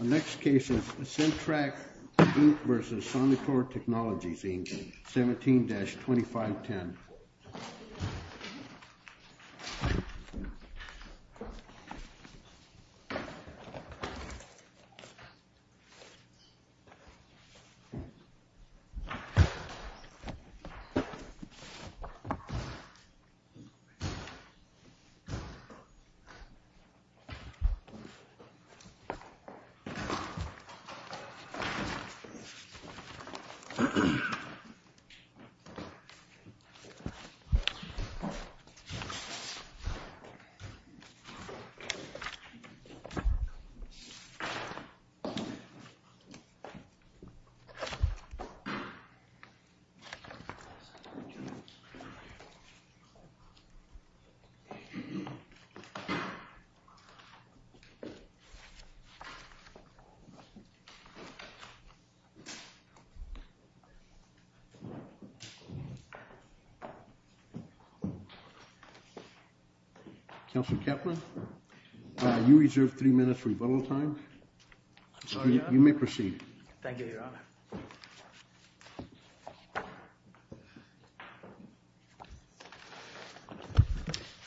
17-2510. Thank you. Thank you. You may proceed. Thank you, Your Honor.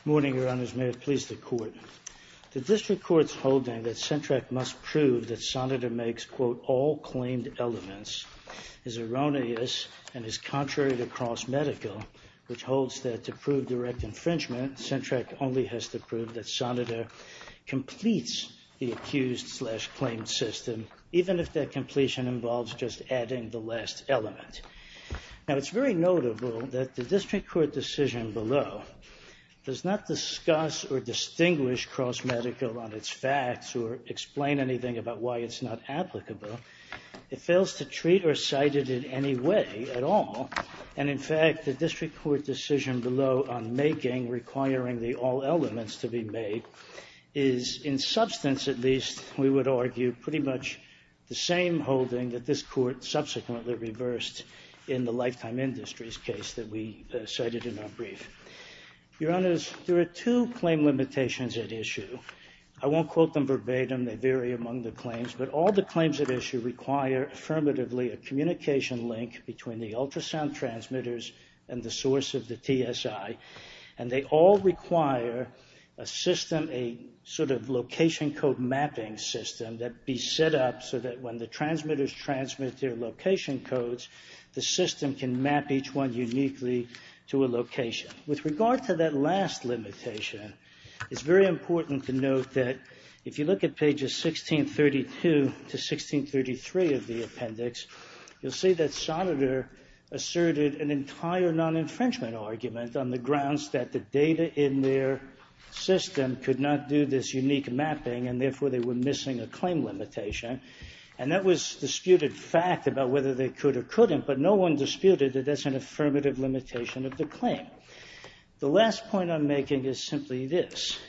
Morning Your Honors, may it please the Court. The District Court's holding that CENTTRAC must prove that Sonitor makes, quote, all claimed elements is erroneous and is contrary to cross medical, which holds that to prove direct infringement, CENTTRAC only has to prove that Sonitor completes the accused slash claimed system, even if that completion involves just adding the last element. Now, it's very notable that the District Court decision below does not discuss or distinguish cross medical on its facts or explain anything about why it's not applicable. It fails to treat or cite it in any way at all. And in fact, the District Court decision below on making, requiring the all elements to be made, is in substance, at least, we would argue, pretty much the same holding that this Court subsequently reversed in the Lifetime Industries case that we cited in our brief. Your Honors, there are two claim limitations at issue. I won't quote them verbatim, they vary among the claims, but all the claims at issue require affirmatively a communication link between the ultrasound transmitters and the source of the TSI, and they all require a system, a sort of location code mapping system that be set up so that when the transmitters transmit their location codes, the system can map each one uniquely to a location. With regard to that last limitation, it's very important to note that if you look at the appendix, you'll see that Sonneter asserted an entire non-infringement argument on the grounds that the data in their system could not do this unique mapping, and therefore they were missing a claim limitation. And that was disputed fact about whether they could or couldn't, but no one disputed that that's an affirmative limitation of the claim. The last point I'm making is simply this.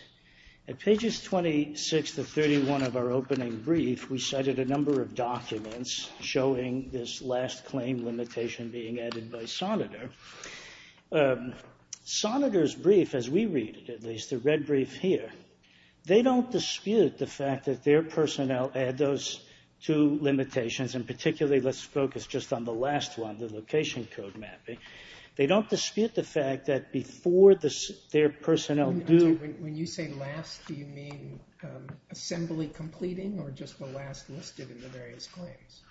At pages 26 to 31 of our opening brief, we cited a number of documents showing this last claim limitation being added by Sonneter. Sonneter's brief, as we read it at least, the red brief here, they don't dispute the fact that their personnel add those two limitations, and particularly let's focus just on the last one, the location code mapping. They don't dispute the fact that before their personnel do... When you say last, do you mean assembly completing or just the last listed in the various claims?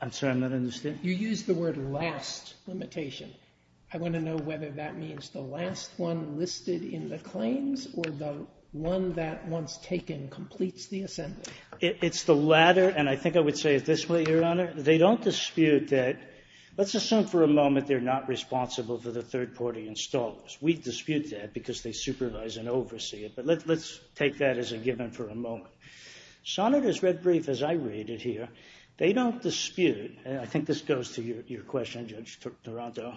I'm sorry, I'm not understanding. You used the word last limitation. I want to know whether that means the last one listed in the claims or the one that once taken completes the assembly. It's the latter, and I think I would say it this way, Your Honor. They don't dispute that. Let's assume for a moment they're not responsible for the third-party installers. We dispute that because they supervise and oversee it, but let's take that as a given for a moment. Sonneter's red brief, as I read it here, they don't dispute, and I think this goes to your question, Judge Toronto.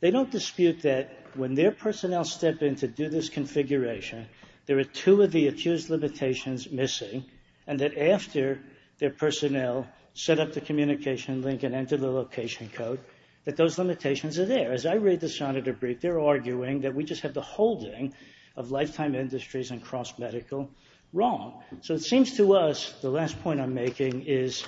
They don't dispute that when their personnel step in to do this configuration, there are two of the accused limitations missing, and that after their personnel set up the communication link and enter the location code, that those limitations are there. As I read the Sonneter brief, they're arguing that we just have the holding of lifetime industries and cross-medical wrong. So it seems to us the last point I'm making is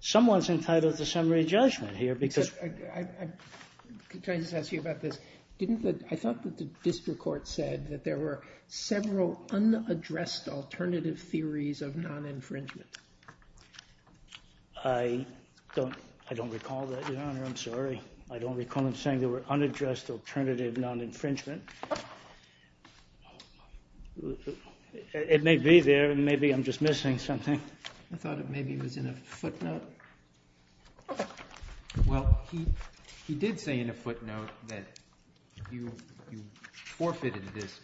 someone's entitled to summary judgment here because... I'm trying to ask you about this. I thought that the district court said that there were several unaddressed alternative theories of non-infringement. I don't recall that, Your Honor. I'm sorry. I don't recall him saying there were unaddressed alternative non-infringement. It may be there, and maybe I'm just missing something. I thought it maybe was in a footnote. Well, he did say in a footnote that you forfeited this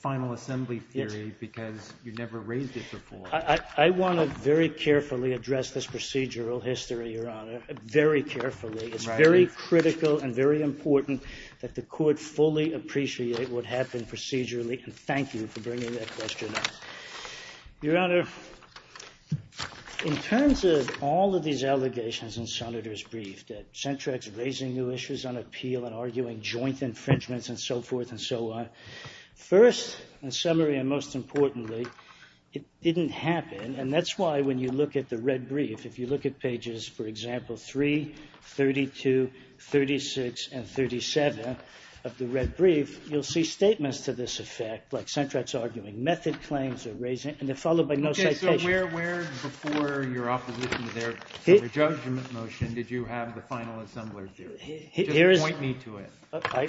final assembly theory because you never raised it before. I want to very carefully address this procedural history, Your Honor. Very carefully. It's very critical and very important that the court fully appreciate what happened procedurally, and thank you for bringing that question up. Your Honor, in terms of all of these allegations in Sonneter's brief, that Centrac's raising new issues on appeal and arguing joint infringements and so forth and so on, first, in summary and most importantly, it didn't happen, and that's why when you look at the red brief, if you look at pages, for example, 3, 32, 36, and 37 of the red brief, you'll see statements to this effect, like Centrac's arguing method claims or raising, and they're followed by no citation. Okay. So where before your opposition to their judgment motion did you have the final assembly theory? Just point me to it.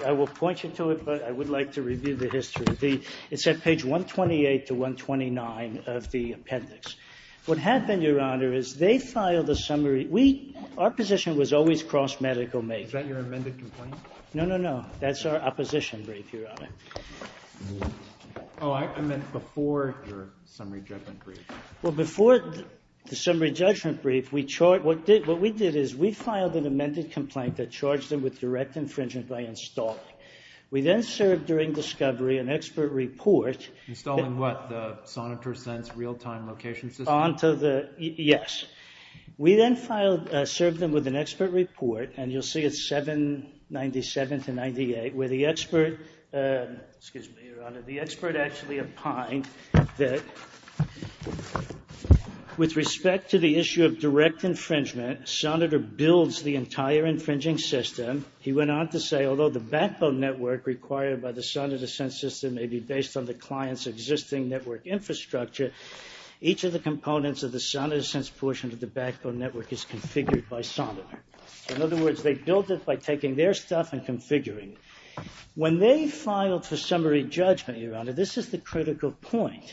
I will point you to it, but I would like to review the history. It's at page 128 to 129 of the appendix. What happened, Your Honor, is they filed a summary. Our position was always cross-medical make. Is that your amended complaint? No, no, no. That's our opposition brief, Your Honor. Oh, I meant before your summary judgment brief. Well, before the summary judgment brief, what we did is we filed an amended complaint that charged them with direct infringement by installing. We then served during discovery an expert report. Installing what? The Sonniter Sense real-time location system? Yes. We then served them with an expert report, and you'll see it's 797 to 98, where the expert, excuse me, Your Honor, the expert actually opined that with respect to the issue of direct infringement, Sonniter builds the entire infringing system. He went on to say, although the backbone network required by the Sonniter Sense system may be based on the client's existing network infrastructure, each of the components of the Sonniter Sense portion of the backbone network is configured by Sonniter. In other words, they built it by taking their stuff and configuring it. When they filed for summary judgment, Your Honor, this is the critical point.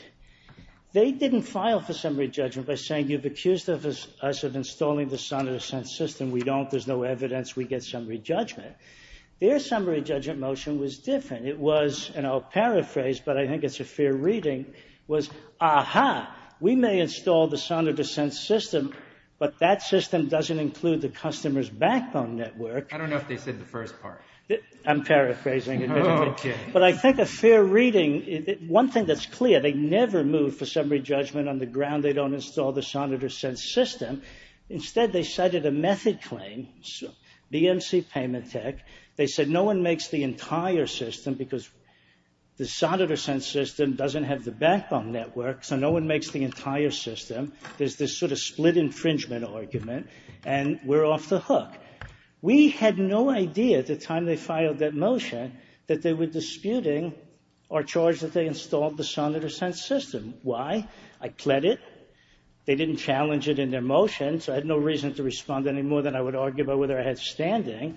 They didn't file for summary judgment by saying, you've accused us of installing the Sonniter Sense system. We don't. There's no evidence. We get summary judgment. Their summary judgment motion was different. It was, and I'll paraphrase, but I think it's a fair reading, was, aha, we may install the Sonniter Sense system, but that system doesn't include the customer's backbone network. I don't know if they said the first part. I'm paraphrasing. Okay. But I think a fair reading, one thing that's clear, they never moved for summary judgment on the ground they don't install the Sonniter Sense system. Instead, they cited a method claim, BMC Payment Tech. They said, no one makes the entire system because the Sonniter Sense system doesn't have the backbone network, so no one makes the entire system. There's this sort of split infringement argument, and we're off the hook. We had no idea at the time they filed that motion that they were disputing our charge that they installed the Sonniter Sense system. Why? I pled it. They didn't challenge it in their motion, so I had no reason to respond any more than I would argue about whether I had standing,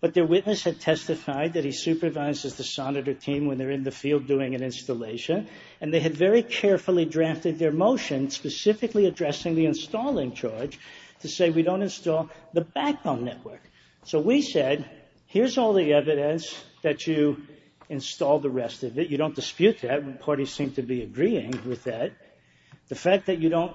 but their witness had testified that he supervises the Sonniter team when they're in the field doing an installation, and they had very carefully drafted their motion specifically addressing the installing charge to say we don't install the backbone network. So we said, here's all the evidence that you installed the rest of it. You don't dispute that. The parties seem to be agreeing with that. The fact that you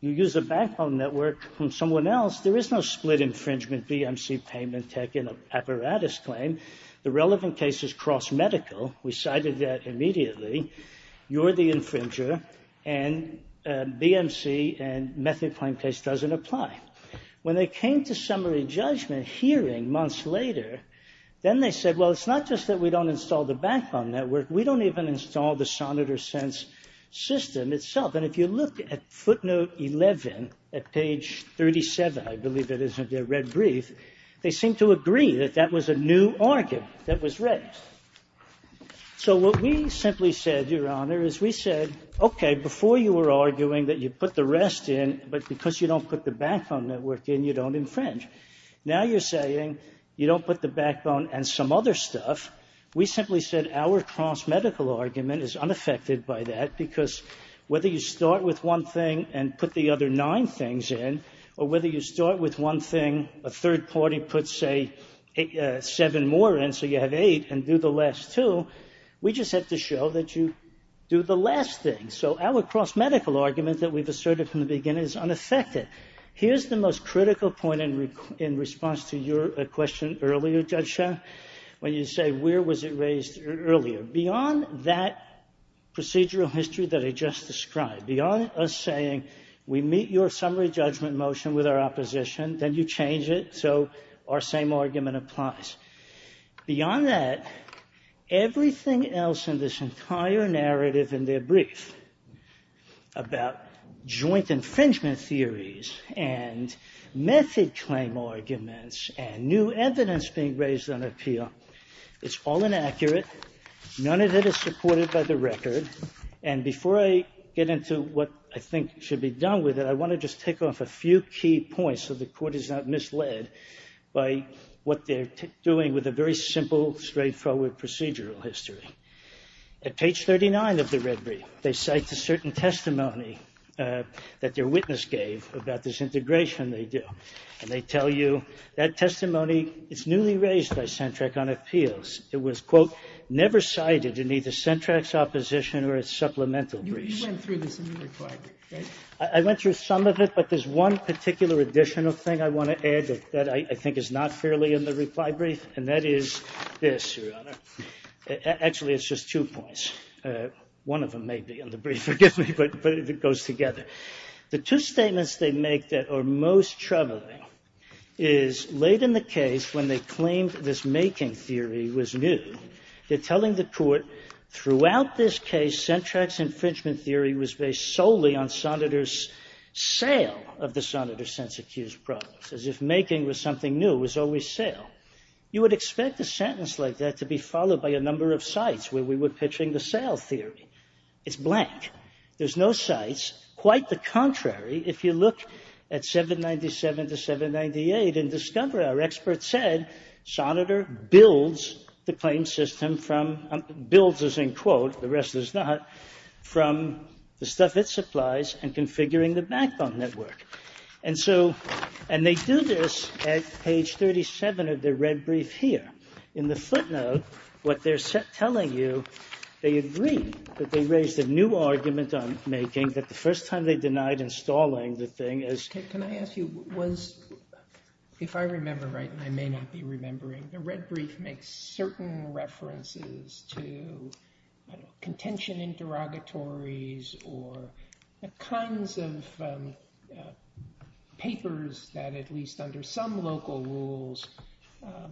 use a backbone network from someone else, there is no split infringement BMC payment tech in an apparatus claim. The relevant case is cross-medical. We cited that immediately. You're the infringer, and BMC and method claim case doesn't apply. When they came to summary judgment hearing months later, then they said, well, it's not just that we don't install the backbone network. We don't even install the Sonniter Sense system. And if you look at footnote 11 at page 37, I believe it is in the red brief, they seem to agree that that was a new argument that was raised. So what we simply said, Your Honor, is we said, okay, before you were arguing that you put the rest in, but because you don't put the backbone network in, you don't infringe. Now you're saying you don't put the backbone and some other stuff. We simply said our cross-medical argument is unaffected by that, because whether you start with one thing and put the other nine things in, or whether you start with one thing, a third party puts, say, seven more in, so you have eight, and do the last two, we just have to show that you do the last thing. So our cross-medical argument that we've asserted from the beginning is unaffected. Here's the most critical point in response to your question earlier, Judge Shah, when you say, where was it raised earlier? Beyond that procedural history that I just described, beyond us saying, we meet your summary judgment motion with our opposition, then you change it so our same argument applies. Beyond that, everything else in this entire narrative in their brief about joint infringement theories and method claim arguments and new evidence being raised on appeal, it's all inaccurate. None of it is supported by the record. And before I get into what I think should be done with it, I want to just take off a few key points so the Court is not misled by what they're doing with a very simple, straightforward procedural history. At page 39 of the red brief, they cite a certain testimony that their witness gave about this integration they do. And they tell you, that testimony is newly raised by CENTRAC on appeals. It was, quote, never cited in either CENTRAC's opposition or its supplemental briefs. You went through this in the reply brief, right? I went through some of it, but there's one particular additional thing I want to add that I think is not fairly in the reply brief, and that is this, Your Honor. Actually, it's just two points. One of them may be in the brief, forgive me, but it goes together. The two statements they make that are most troubling is late in the case when they claimed this making theory was new. They're telling the Court, throughout this case, CENTRAC's infringement theory was based solely on sonneter's sale of the sonneter's sense-accused problems, as if making was something new, it was always sale. You would expect a sentence like that to be followed by a number of cites where we were pitching the sale theory. It's blank. There's no cites. Quite the contrary, if you look at 797 to 798 and discover our experts said sonneter builds the claim system from, builds as in quote, the rest is not, from the stuff it supplies and configuring the backbone network. And so, and they do this at page 37 of their red brief here. In the footnote, what they're telling you, they agree that they raised a new argument on making that the first time they denied installing the thing is. Can I ask you, was, if I remember right, and I may not be remembering, the red brief makes certain references to contention interrogatories or the kinds of papers that at least under some local rules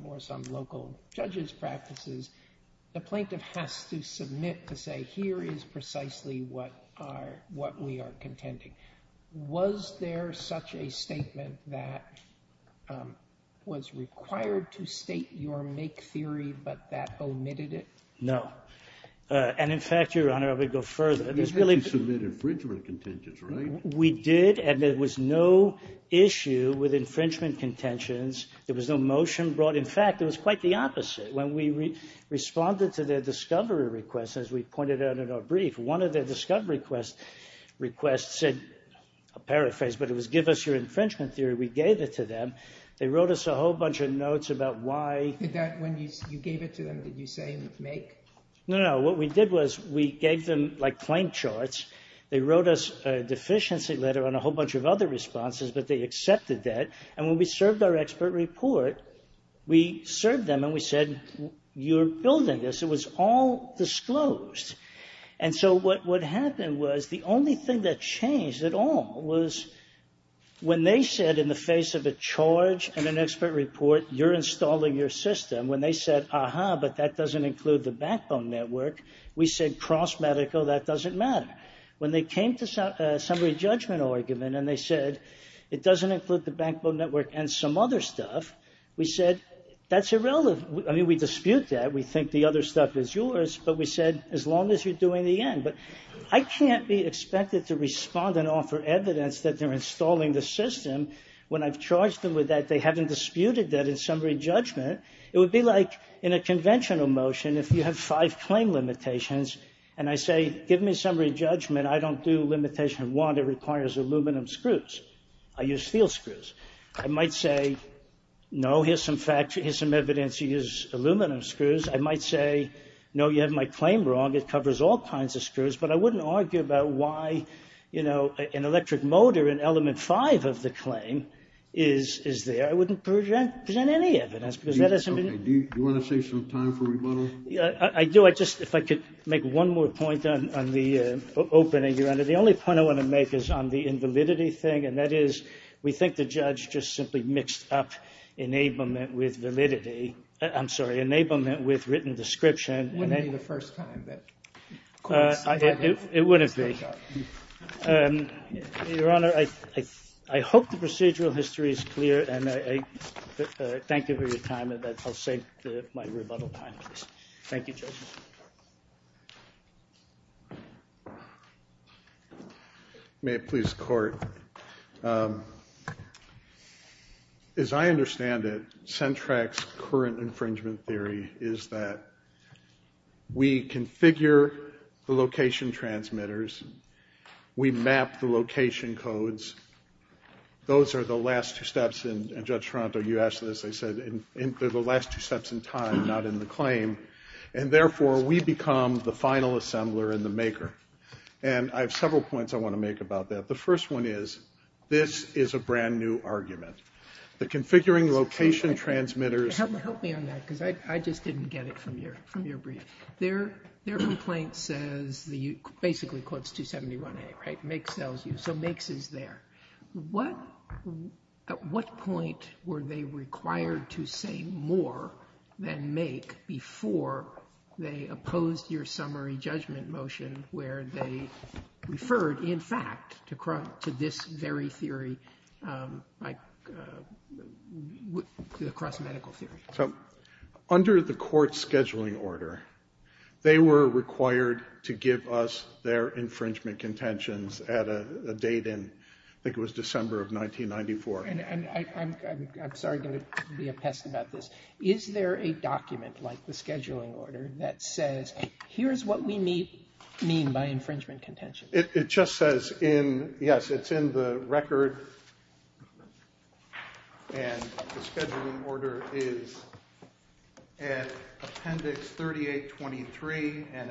or some local judges practices, the plaintiff has to submit to say here is precisely what are, what we are contending. Was there such a statement that was required to state your make theory, but that omitted it? No. And in fact, Your Honor, I would go further. You had to submit infringement contentions, right? We did, and there was no issue with infringement contentions. There was no motion brought. In fact, it was quite the opposite. When we responded to their discovery request, as we pointed out in our brief, one of their discovery requests said, a paraphrase, but it was give us your infringement theory. We gave it to them. They wrote us a whole bunch of notes about why. Did that, when you gave it to them, did you say make? No, no. What we did was we gave them like claim charts. They wrote us a deficiency letter and a whole bunch of other responses, but they accepted that. And when we served our expert report, we served them and we said, you're building this. It was all disclosed. And so what happened was the only thing that changed at all was when they said in the face of a charge and an expert report, you're installing your system, when they said, aha, but that doesn't include the backbone network, we said cross medical, that doesn't matter. When they came to summary judgment argument and they said, it doesn't include the backbone network and some other stuff, we said, that's irrelevant. I mean, we dispute that. We think the other stuff is yours, but we said, as long as you're doing the end. But I can't be expected to respond and offer evidence that they're installing the system when I've charged them with that. They haven't disputed that in summary judgment. It would be like in a conventional motion if you have five claim limitations and I say, give me summary judgment. I don't do limitation one that requires aluminum screws. I use steel screws. I might say, no, here's some evidence you use aluminum screws. I might say, no, you have my claim wrong. It covers all kinds of screws. But I wouldn't argue about why, you know, an electric motor in element five of the claim is there. I wouldn't present any evidence. Do you want to save some time for rebuttal? I do. I just, if I could make one more point on the opening, Your Honor. The only point I want to make is on the invalidity thing, and that is, we think the judge just simply mixed up enablement with validity. I'm sorry, enablement with written description. It wouldn't be the first time. It wouldn't be. Your Honor, I hope the procedural history is clear, and I thank you for your time, and I'll save my rebuttal time. Thank you, Judge. May it please the Court. As I understand it, Sentrac's current infringement theory is that we configure the location transmitters, we map the location codes. Those are the last two steps, and, Judge Toronto, you asked this. I said they're the last two steps in time, not in the claim, and therefore we become the final assembler and the maker. And I have several points I want to make about that. The first one is, this is a brand-new argument. The configuring location transmitters. Help me on that because I just didn't get it from your brief. Their complaint says, basically quotes 271A, right? MAKES sells you, so MAKES is there. At what point were they required to say more than MAKE before they opposed your summary judgment motion where they referred, in fact, to this very theory, the cross-medical theory? Under the court's scheduling order, they were required to give us their infringement contentions at a date and I think it was December of 1994. I'm sorry I'm going to be a pest about this. Is there a document like the scheduling order that says, here's what we mean by infringement contentions? It just says, yes, it's in the record, and the scheduling order is at appendix 3823, and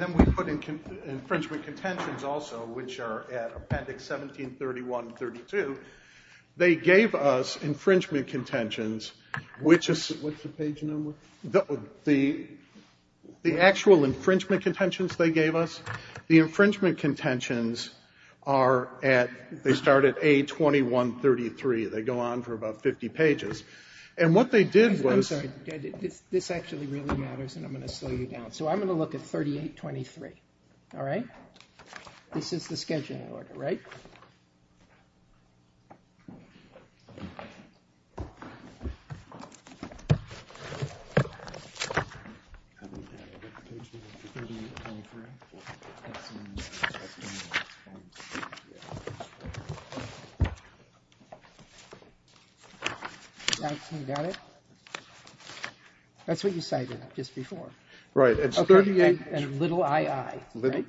then we put infringement contentions also, which are at appendix 1731-32. They gave us infringement contentions, which is... What's the page number? The actual infringement contentions they gave us, the infringement contentions are at, they start at A2133. They go on for about 50 pages. And what they did was... I'm sorry. This actually really matters and I'm going to slow you down. So I'm going to look at 3823, all right? This is the scheduling order, right? That's what you cited just before. Right. And little ii, right?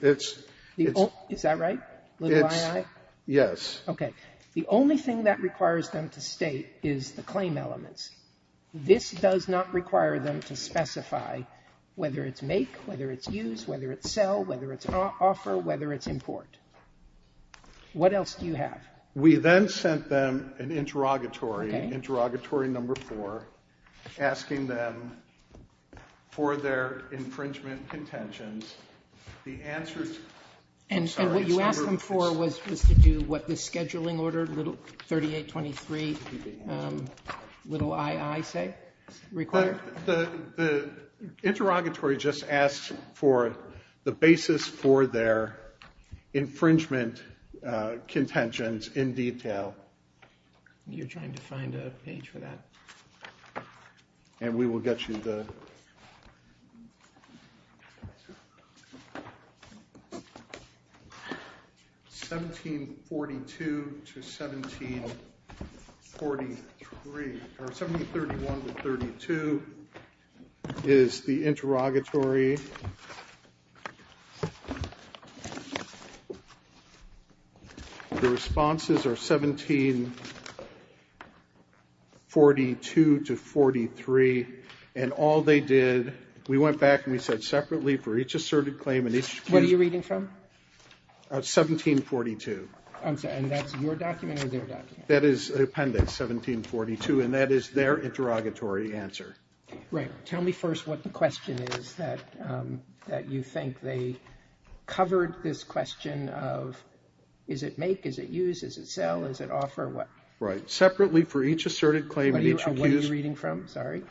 Is that right? Little ii? Yes. Okay. The only thing that requires them to state is the claim elements. This does not require them to specify whether it's make, whether it's use, whether it's sell, whether it's offer, whether it's import. What else do you have? We then sent them an interrogatory, interrogatory number 4, asking them for their infringement contentions. The answers... And what you asked them for was to do what the scheduling order, little 3823, little ii, say, required? The interrogatory just asked for the basis for their infringement contentions in detail. You're trying to find a page for that. And we will get you the... 1742 to 1743, or 1731 to 1732 is the interrogatory. The responses are 1742 to 43, and all they did, we went back and we said separately for each asserted claim and each... What are you reading from? 1742. I'm sorry, and that's your document or their document? That is the appendix, 1742, and that is their interrogatory answer. Right. Tell me first what the question is. That you think they covered this question of is it make, is it use, is it sell, is it offer, what? Right. Separately for each asserted claim and each accused... What are you reading from? Sorry.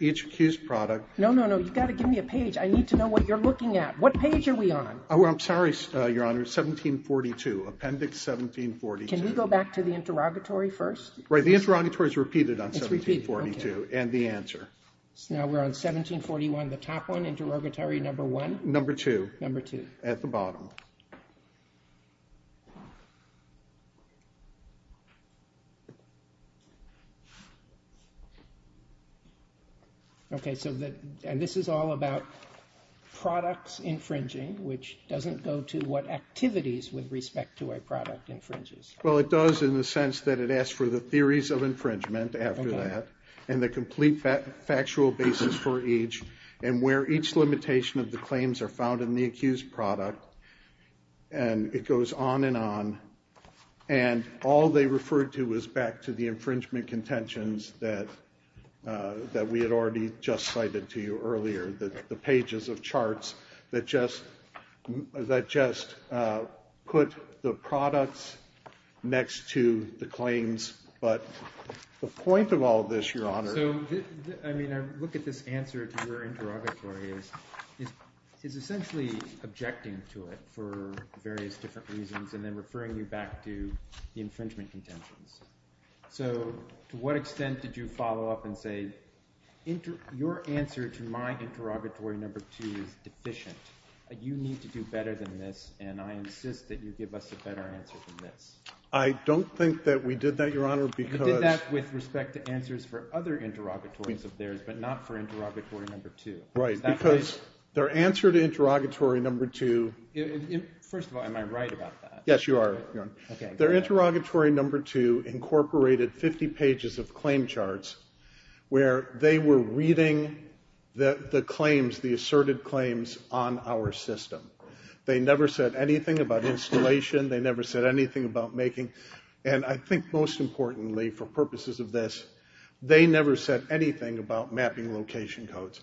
Each accused product... No, no, no. You've got to give me a page. I need to know what you're looking at. What page are we on? I'm sorry, Your Honor. 1742, appendix 1742. Can we go back to the interrogatory first? Right. The interrogatory is repeated on 1742 and the answer. So now we're on 1741, the top one, interrogatory number one? Number two. Number two. At the bottom. Okay, so that, and this is all about products infringing, which doesn't go to what activities with respect to a product infringes. Well, it does in the sense that it asks for the theories of infringement after that and the complete factual basis for each and where each limitation of the claims are found in the accused product. And it goes on and on. And all they referred to was back to the infringement contentions that we had already just cited to you earlier, the pages of charts that just put the products next to the claims. But the point of all this, Your Honor. So, I mean, I look at this answer to your interrogatory as essentially objecting to it for various different reasons and then referring you back to the infringement contentions. So to what extent did you follow up and say, your answer to my interrogatory number two is deficient. You need to do better than this, and I insist that you give us a better answer than this. I don't think that we did that, Your Honor, because... You did that with respect to answers for other interrogatories of theirs but not for interrogatory number two. Right, because their answer to interrogatory number two... First of all, am I right about that? Yes, you are. Their interrogatory number two incorporated 50 pages of claim charts where they were reading the claims, the asserted claims on our system. They never said anything about installation. They never said anything about making... And I think most importantly, for purposes of this, they never said anything about mapping location codes.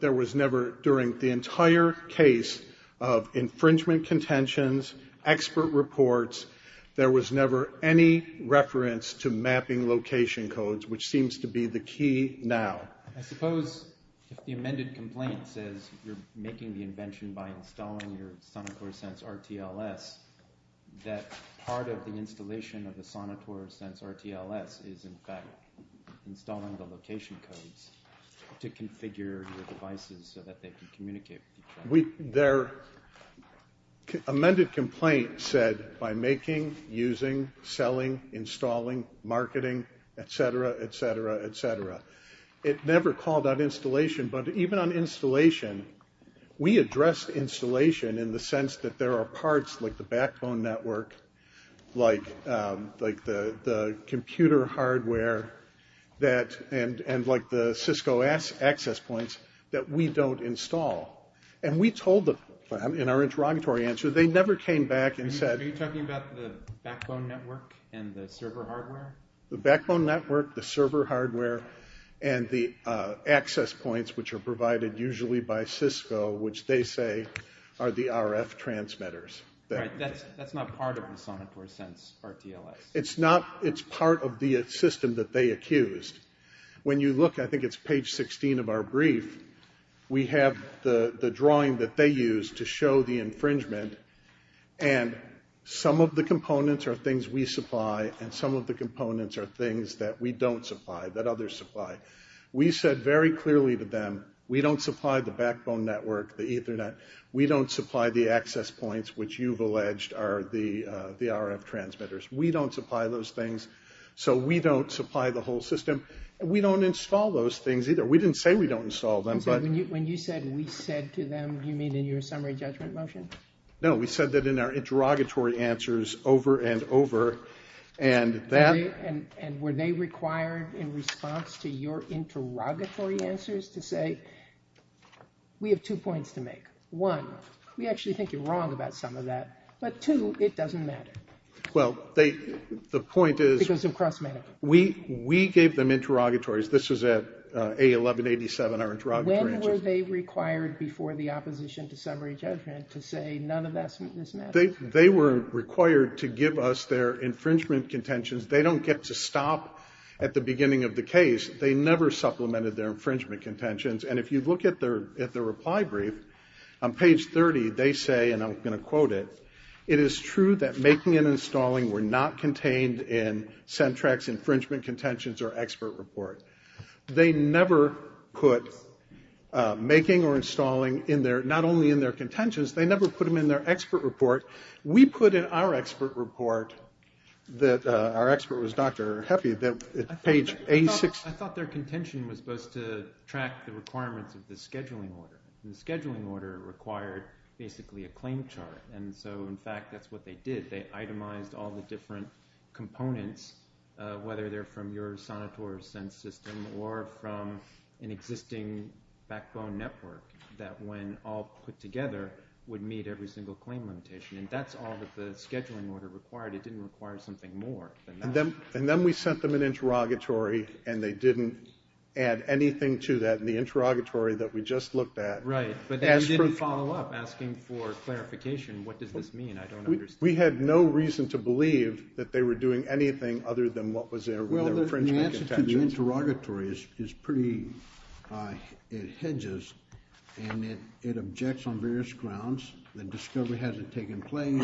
There was never, during the entire case of infringement contentions, expert reports, there was never any reference to mapping location codes, which seems to be the key now. I suppose if the amended complaint says you're making the invention by installing your Sonotor Sense RTLS, that part of the installation of the Sonotor Sense RTLS is in fact installing the location codes to configure your devices so that they can communicate with each other. Their amended complaint said, by making, using, selling, installing, marketing, etc., etc., etc. It never called on installation, but even on installation, we addressed installation in the sense that there are parts, like the backbone network, like the computer hardware, and like the Cisco access points, that we don't install. And we told them, in our interrogatory answer, they never came back and said... Are you talking about the backbone network and the server hardware? The backbone network, the server hardware, and the access points, which are provided usually by Cisco, which they say are the RF transmitters. Right. That's not part of the Sonotor Sense RTLS. It's not. It's part of the system that they accused. When you look, I think it's page 16 of our brief, we have the drawing that they used to show the infringement, and some of the components are things we supply and some of the components are things that we don't supply, that others supply. We said very clearly to them, we don't supply the backbone network, the Ethernet, we don't supply the access points, which you've alleged are the RF transmitters. We don't supply those things, so we don't supply the whole system. We don't install those things either. We didn't say we don't install them, but... When you said, we said to them, do you mean in your summary judgment motion? No, we said that in our interrogatory answers over and over, and that... And were they required in response to your interrogatory answers to say, we have two points to make. One, we actually think you're wrong about some of that, but two, it doesn't matter. Well, the point is... Because of cross-media. We gave them interrogatories. This was at A1187, our interrogatory answer. When were they required before the opposition to summary judgment to say none of this matters? They were required to give us their infringement contentions. They don't get to stop at the beginning of the case. They never supplemented their infringement contentions. And if you look at their reply brief, on page 30 they say, and I'm going to quote it, it is true that making and installing were not contained in Centrax infringement contentions or expert report. They never put making or installing in their... Not only in their contentions, they never put them in their expert report. We put in our expert report that, our expert was Dr. Heffy, that page A6... I thought their contention was supposed to track the requirements of the scheduling order. The scheduling order required basically a claim chart. And so, in fact, that's what they did. They itemized all the different components, whether they're from your sonotour sense system or from an existing backbone network, that when all put together would meet every single claim limitation. And that's all that the scheduling order required. It didn't require something more than that. And then we sent them an interrogatory and they didn't add anything to that in the interrogatory that we just looked at. Right, but they didn't follow up asking for clarification. What does this mean? I don't understand. We had no reason to believe that they were doing anything other than what was in their infringement contentions. Actually, the interrogatory is pretty... it hedges and it objects on various grounds. The discovery hasn't taken place.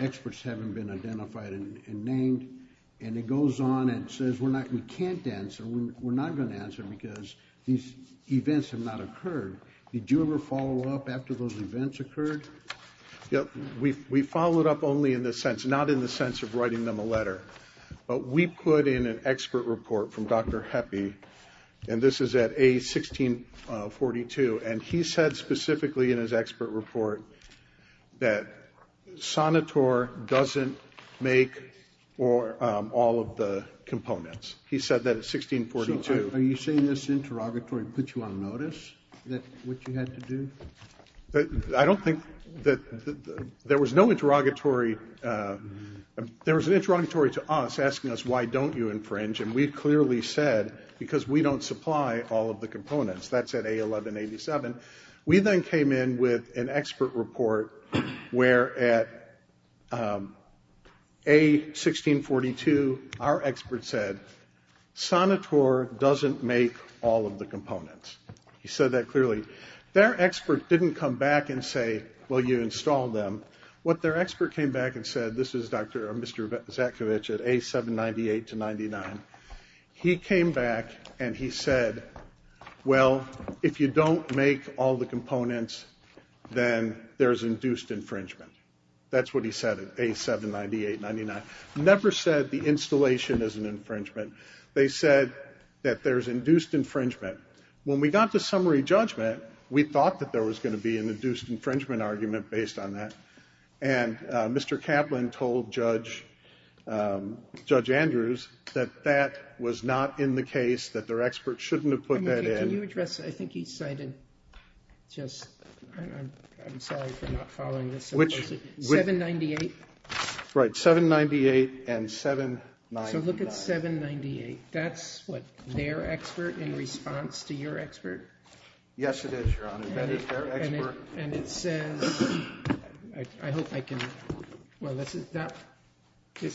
Experts haven't been identified and named. And it goes on and says, we can't answer, we're not going to answer because these events have not occurred. Did you ever follow up after those events occurred? Yep, we followed up only in the sense, not in the sense of writing them a letter. But we put in an expert report from Dr. Heppe, and this is at age 1642, and he said specifically in his expert report that Sanator doesn't make all of the components. He said that at 1642... So are you saying this interrogatory put you on notice that what you had to do? I don't think that... there was no interrogatory... there was an interrogatory to us asking us, why don't you infringe? And we clearly said, because we don't supply all of the components. That's at A1187. We then came in with an expert report where at A1642, our expert said, Sanator doesn't make all of the components. He said that clearly. Their expert didn't come back and say, well, you installed them. What their expert came back and said, this is Dr. Zakovich at A798-99. He came back and he said, well, if you don't make all the components, then there's induced infringement. That's what he said at A798-99. Never said the installation is an infringement. They said that there's induced infringement. When we got to summary judgment, we thought that there was going to be an induced infringement argument based on that. And Mr. Kaplan told Judge Andrews that that was not in the case, that their expert shouldn't have put that in. Can you address, I think he cited, I'm sorry for not following this, 798? Right, 798 and 799. So look at 798. Yes, it is, Your Honor. And it says, I hope I can, well, this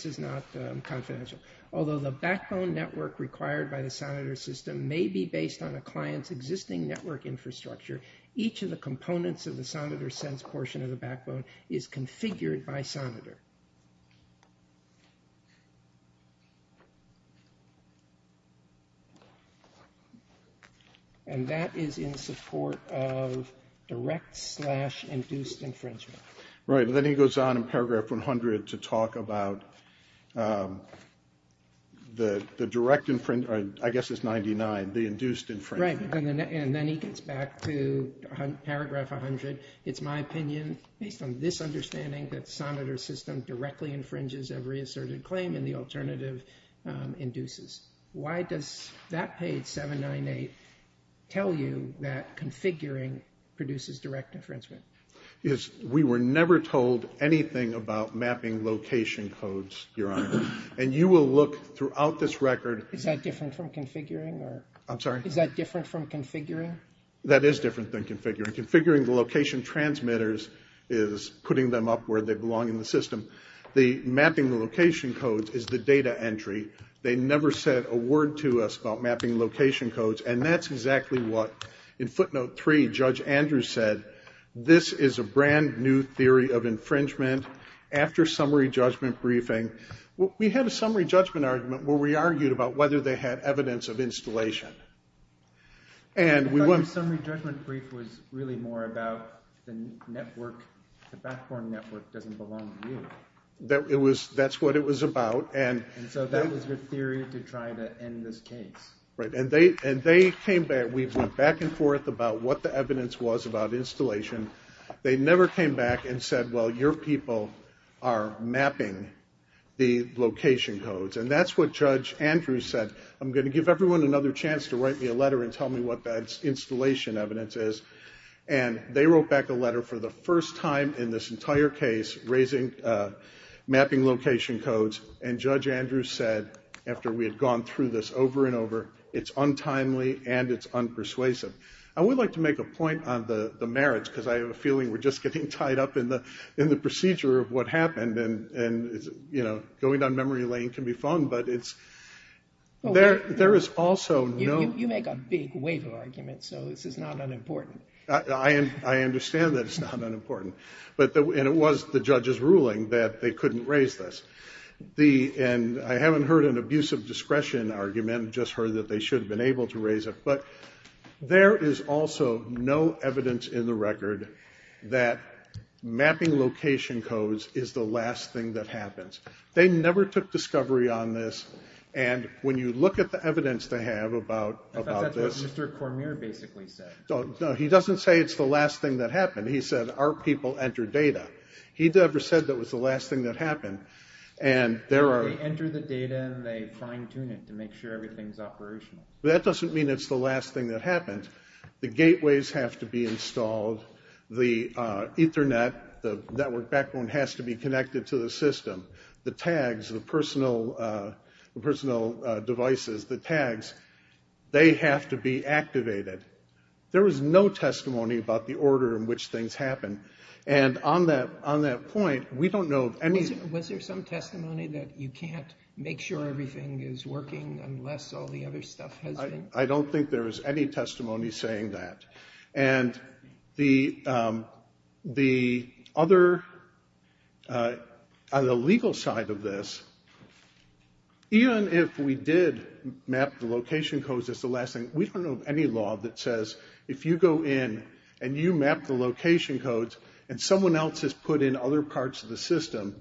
is not confidential. Although the backbone network required by the sonitor system may be based on a client's existing network infrastructure, each of the components of the sonitor sense portion of the backbone is configured by sonitor. And that is in support of direct slash induced infringement. Right, and then he goes on in paragraph 100 to talk about the direct infringement, I guess it's 99, the induced infringement. Right, and then he gets back to paragraph 100. It's my opinion, based on this understanding, on a client's existing network infrastructure. The system directly infringes every asserted claim and the alternative induces. Why does that page 798 tell you that configuring produces direct infringement? Because we were never told anything about mapping location codes, Your Honor. And you will look throughout this record. Is that different from configuring? I'm sorry? Is that different from configuring? That is different than configuring. Configuring the location transmitters is putting them up where they belong in the system. The mapping location codes is the data entry. They never said a word to us about mapping location codes. And that's exactly what, in footnote 3, Judge Andrews said, this is a brand new theory of infringement. After summary judgment briefing, we had a summary judgment argument where we argued about whether they had evidence of installation. I thought your summary judgment brief was really more about the network, the backbone network doesn't belong to you. That's what it was about. And so that was your theory to try to end this case. Right. And they came back. We went back and forth about what the evidence was about installation. They never came back and said, well, your people are mapping the location codes. And that's what Judge Andrews said. I'm going to give everyone another chance to write me a letter and tell me what that installation evidence is. And they wrote back a letter for the first time in this entire case raising mapping location codes. And Judge Andrews said, after we had gone through this over and over, it's untimely and it's unpersuasive. I would like to make a point on the merits because I have a feeling we're just getting tied up in the procedure of what happened. And going down memory lane can be fun, but there is also no... You make a big wave of arguments, so this is not unimportant. I understand that it's not unimportant. And it was the judge's ruling that they couldn't raise this. And I haven't heard an abuse of discretion argument. I just heard that they should have been able to raise it. But there is also no evidence in the record that mapping location codes is the last thing that happens. They never took discovery on this. And when you look at the evidence they have about this... I thought that's what Mr. Cormier basically said. No, he doesn't say it's the last thing that happened. He said, our people enter data. He never said that was the last thing that happened. They enter the data and they fine-tune it to make sure everything's operational. That doesn't mean it's the last thing that happened. The gateways have to be installed. The Ethernet, the network backbone, has to be connected to the system. The tags, the personal devices, the tags, they have to be activated. There was no testimony about the order in which things happen. And on that point, we don't know of any... Was there some testimony that you can't make sure everything is working unless all the other stuff has been? I don't think there was any testimony saying that. And the other... on the legal side of this, even if we did map the location codes as the last thing, we don't know of any law that says if you go in and you map the location codes and someone else has put in other parts of the system,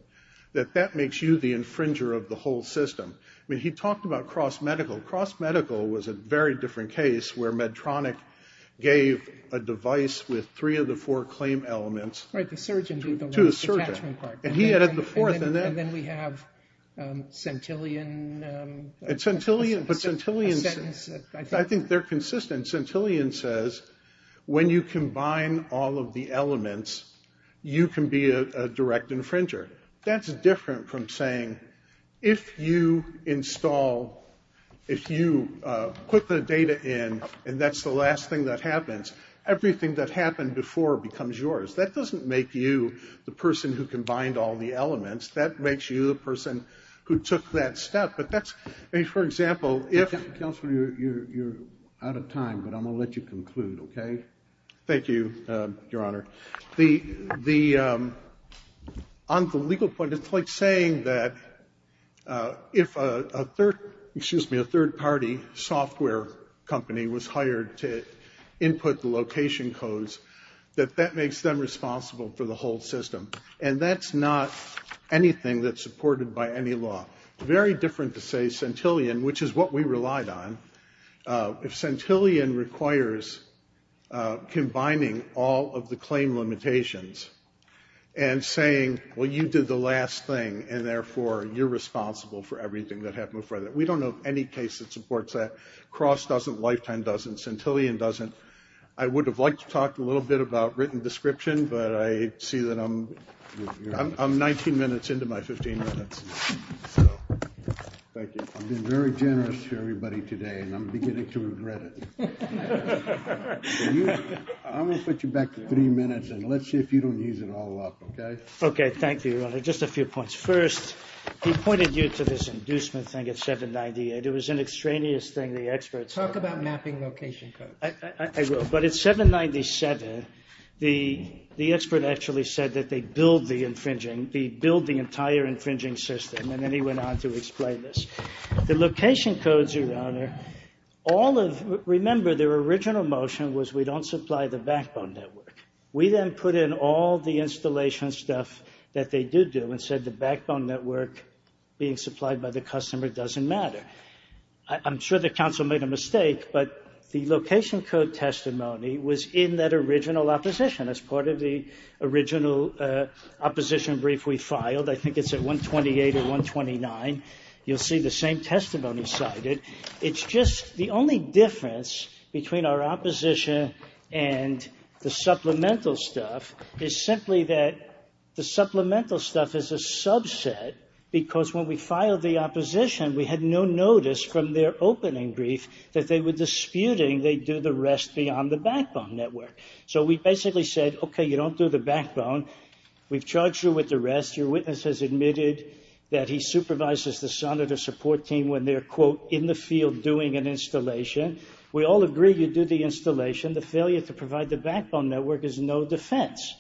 that that makes you the infringer of the whole system. He talked about cross-medical. Cross-medical was a very different case where Medtronic gave a device with three of the four claim elements to a surgeon. And he added the fourth. And then we have Centillion. And Centillion... I think they're consistent. Centillion says when you combine all of the elements, you can be a direct infringer. That's different from saying if you install, if you put the data in and that's the last thing that happens, everything that happened before becomes yours. That doesn't make you the person who combined all the elements. That makes you the person who took that step. But that's... I mean, for example, if... Counselor, you're out of time, but I'm going to let you conclude, okay? Thank you, Your Honor. The... On the legal point, it's like saying that if a third... excuse me, a third-party software company was hired to input the location codes, that that makes them responsible for the whole system. And that's not anything that's supported by any law. Very different to say Centillion, which is what we relied on, if Centillion requires combining all of the claim limitations and saying, well, you did the last thing, and therefore you're responsible for everything that happened before that. We don't know of any case that supports that. Cross doesn't. Lifetime doesn't. Centillion doesn't. I would have liked to talk a little bit about written description, but I see that I'm... I'm 19 minutes into my 15 minutes. Thank you. I've been very generous to everybody today, and I'm beginning to regret it. I'm going to put you back to three minutes, and let's see if you don't use it all up, okay? Okay, thank you, Your Honor. Just a few points. First, he pointed you to this inducement thing at 798. It was an extraneous thing the experts... Talk about mapping location codes. I will, but at 797, the expert actually said that they build the infringing, they build the entire infringing system, and then he went on to explain this. The location codes, Your Honor, all of... Remember, their original motion was we don't supply the backbone network. We then put in all the installation stuff that they did do and said the backbone network being supplied by the customer doesn't matter. I'm sure the counsel made a mistake, but the location code testimony was in that original opposition. That's part of the original opposition brief we filed. I think it's at 128 or 129. You'll see the same testimony cited. It's just the only difference between our opposition and the supplemental stuff is simply that the supplemental stuff is a subset because when we filed the opposition, we had no notice from their opening brief that they were disputing they do the rest beyond the backbone network. So we basically said, okay, you don't do the backbone. We've charged you with the rest. Your witness has admitted that he supervises the son of the support team when they're, quote, in the field doing an installation. We all agree you do the installation. The failure to provide the backbone network is no defense.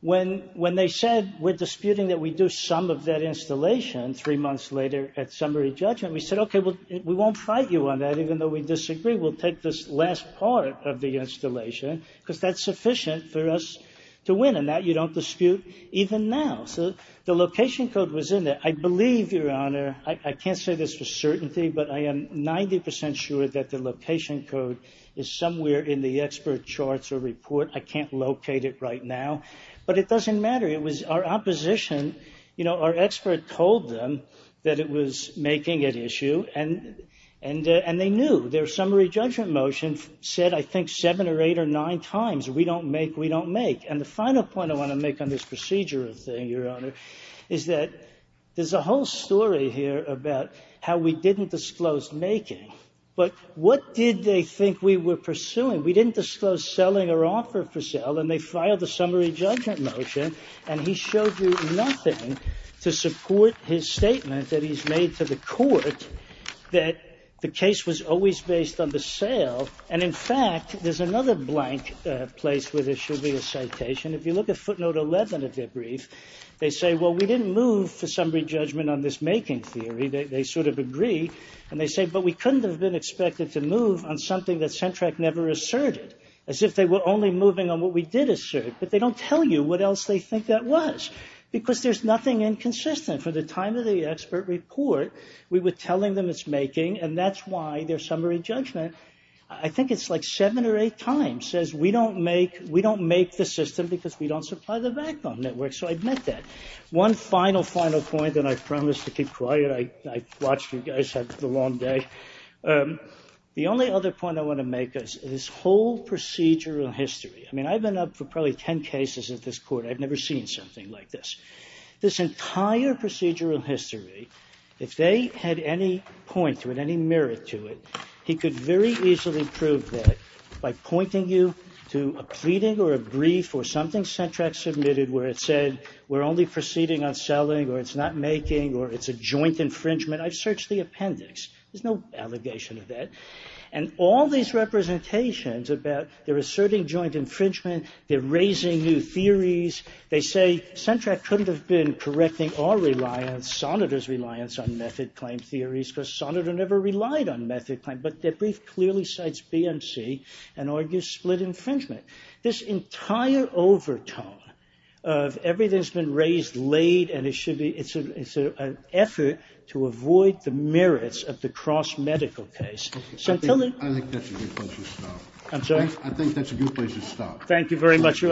When they said we're disputing that we do some of that installation, three months later at summary judgment, we said, okay, we won't fight you on that even though we disagree. We'll take this last part of the installation because that's sufficient for us to win and that you don't dispute even now. So the location code was in there. I believe, Your Honor, I can't say this for certainty, but I am 90% sure that the location code is somewhere in the expert charts or report. I can't locate it right now, but it doesn't matter. It was our opposition. You know, our expert told them that it was making an issue, and they knew. Their summary judgment motion said I think seven or eight or nine times we don't make, we don't make. And the final point I want to make on this procedural thing, Your Honor, is that there's a whole story here about how we didn't disclose making, but what did they think we were pursuing? We didn't disclose selling or offer for sale, and they filed a summary judgment motion, and he showed you nothing to support his statement that he's made to the court that the case was always based on the sale. And, in fact, there's another blank place where there should be a citation. If you look at footnote 11 of their brief, they say, well, we didn't move for summary judgment on this making theory. They sort of agree. And they say, but we couldn't have been expected to move on something that Centrac never asserted, as if they were only moving on what we did assert. But they don't tell you what else they think that was, because there's nothing inconsistent. For the time of the expert report, we were telling them it's making, and that's why their summary judgment, I think it's like seven or eight times, says we don't make, we don't make the system because we don't supply the backbone network. So I admit that. One final, final point, and I promise to keep quiet. I've watched you guys have a long day. The only other point I want to make is this whole procedural history. I mean, I've been up for probably 10 cases at this court. I've never seen something like this. This entire procedural history, if they had any point or any merit to it, he could very easily prove that by pointing you to a pleading or a brief or something Centrac submitted where it said we're only proceeding on selling or it's not making or it's a joint infringement. I've searched the appendix. There's no allegation of that. And all these representations about they're asserting joint infringement. They're raising new theories. They say Centrac couldn't have been correcting our reliance, Sonata's reliance on method claim theories because Sonata never relied on method claim. But their brief clearly cites BMC and argues split infringement. This entire overtone of everything's been raised late and it should be, it's an effort to avoid the merits of the cross-medical case. I think that's a good place to stop. I'm sorry? I think that's a good place to stop.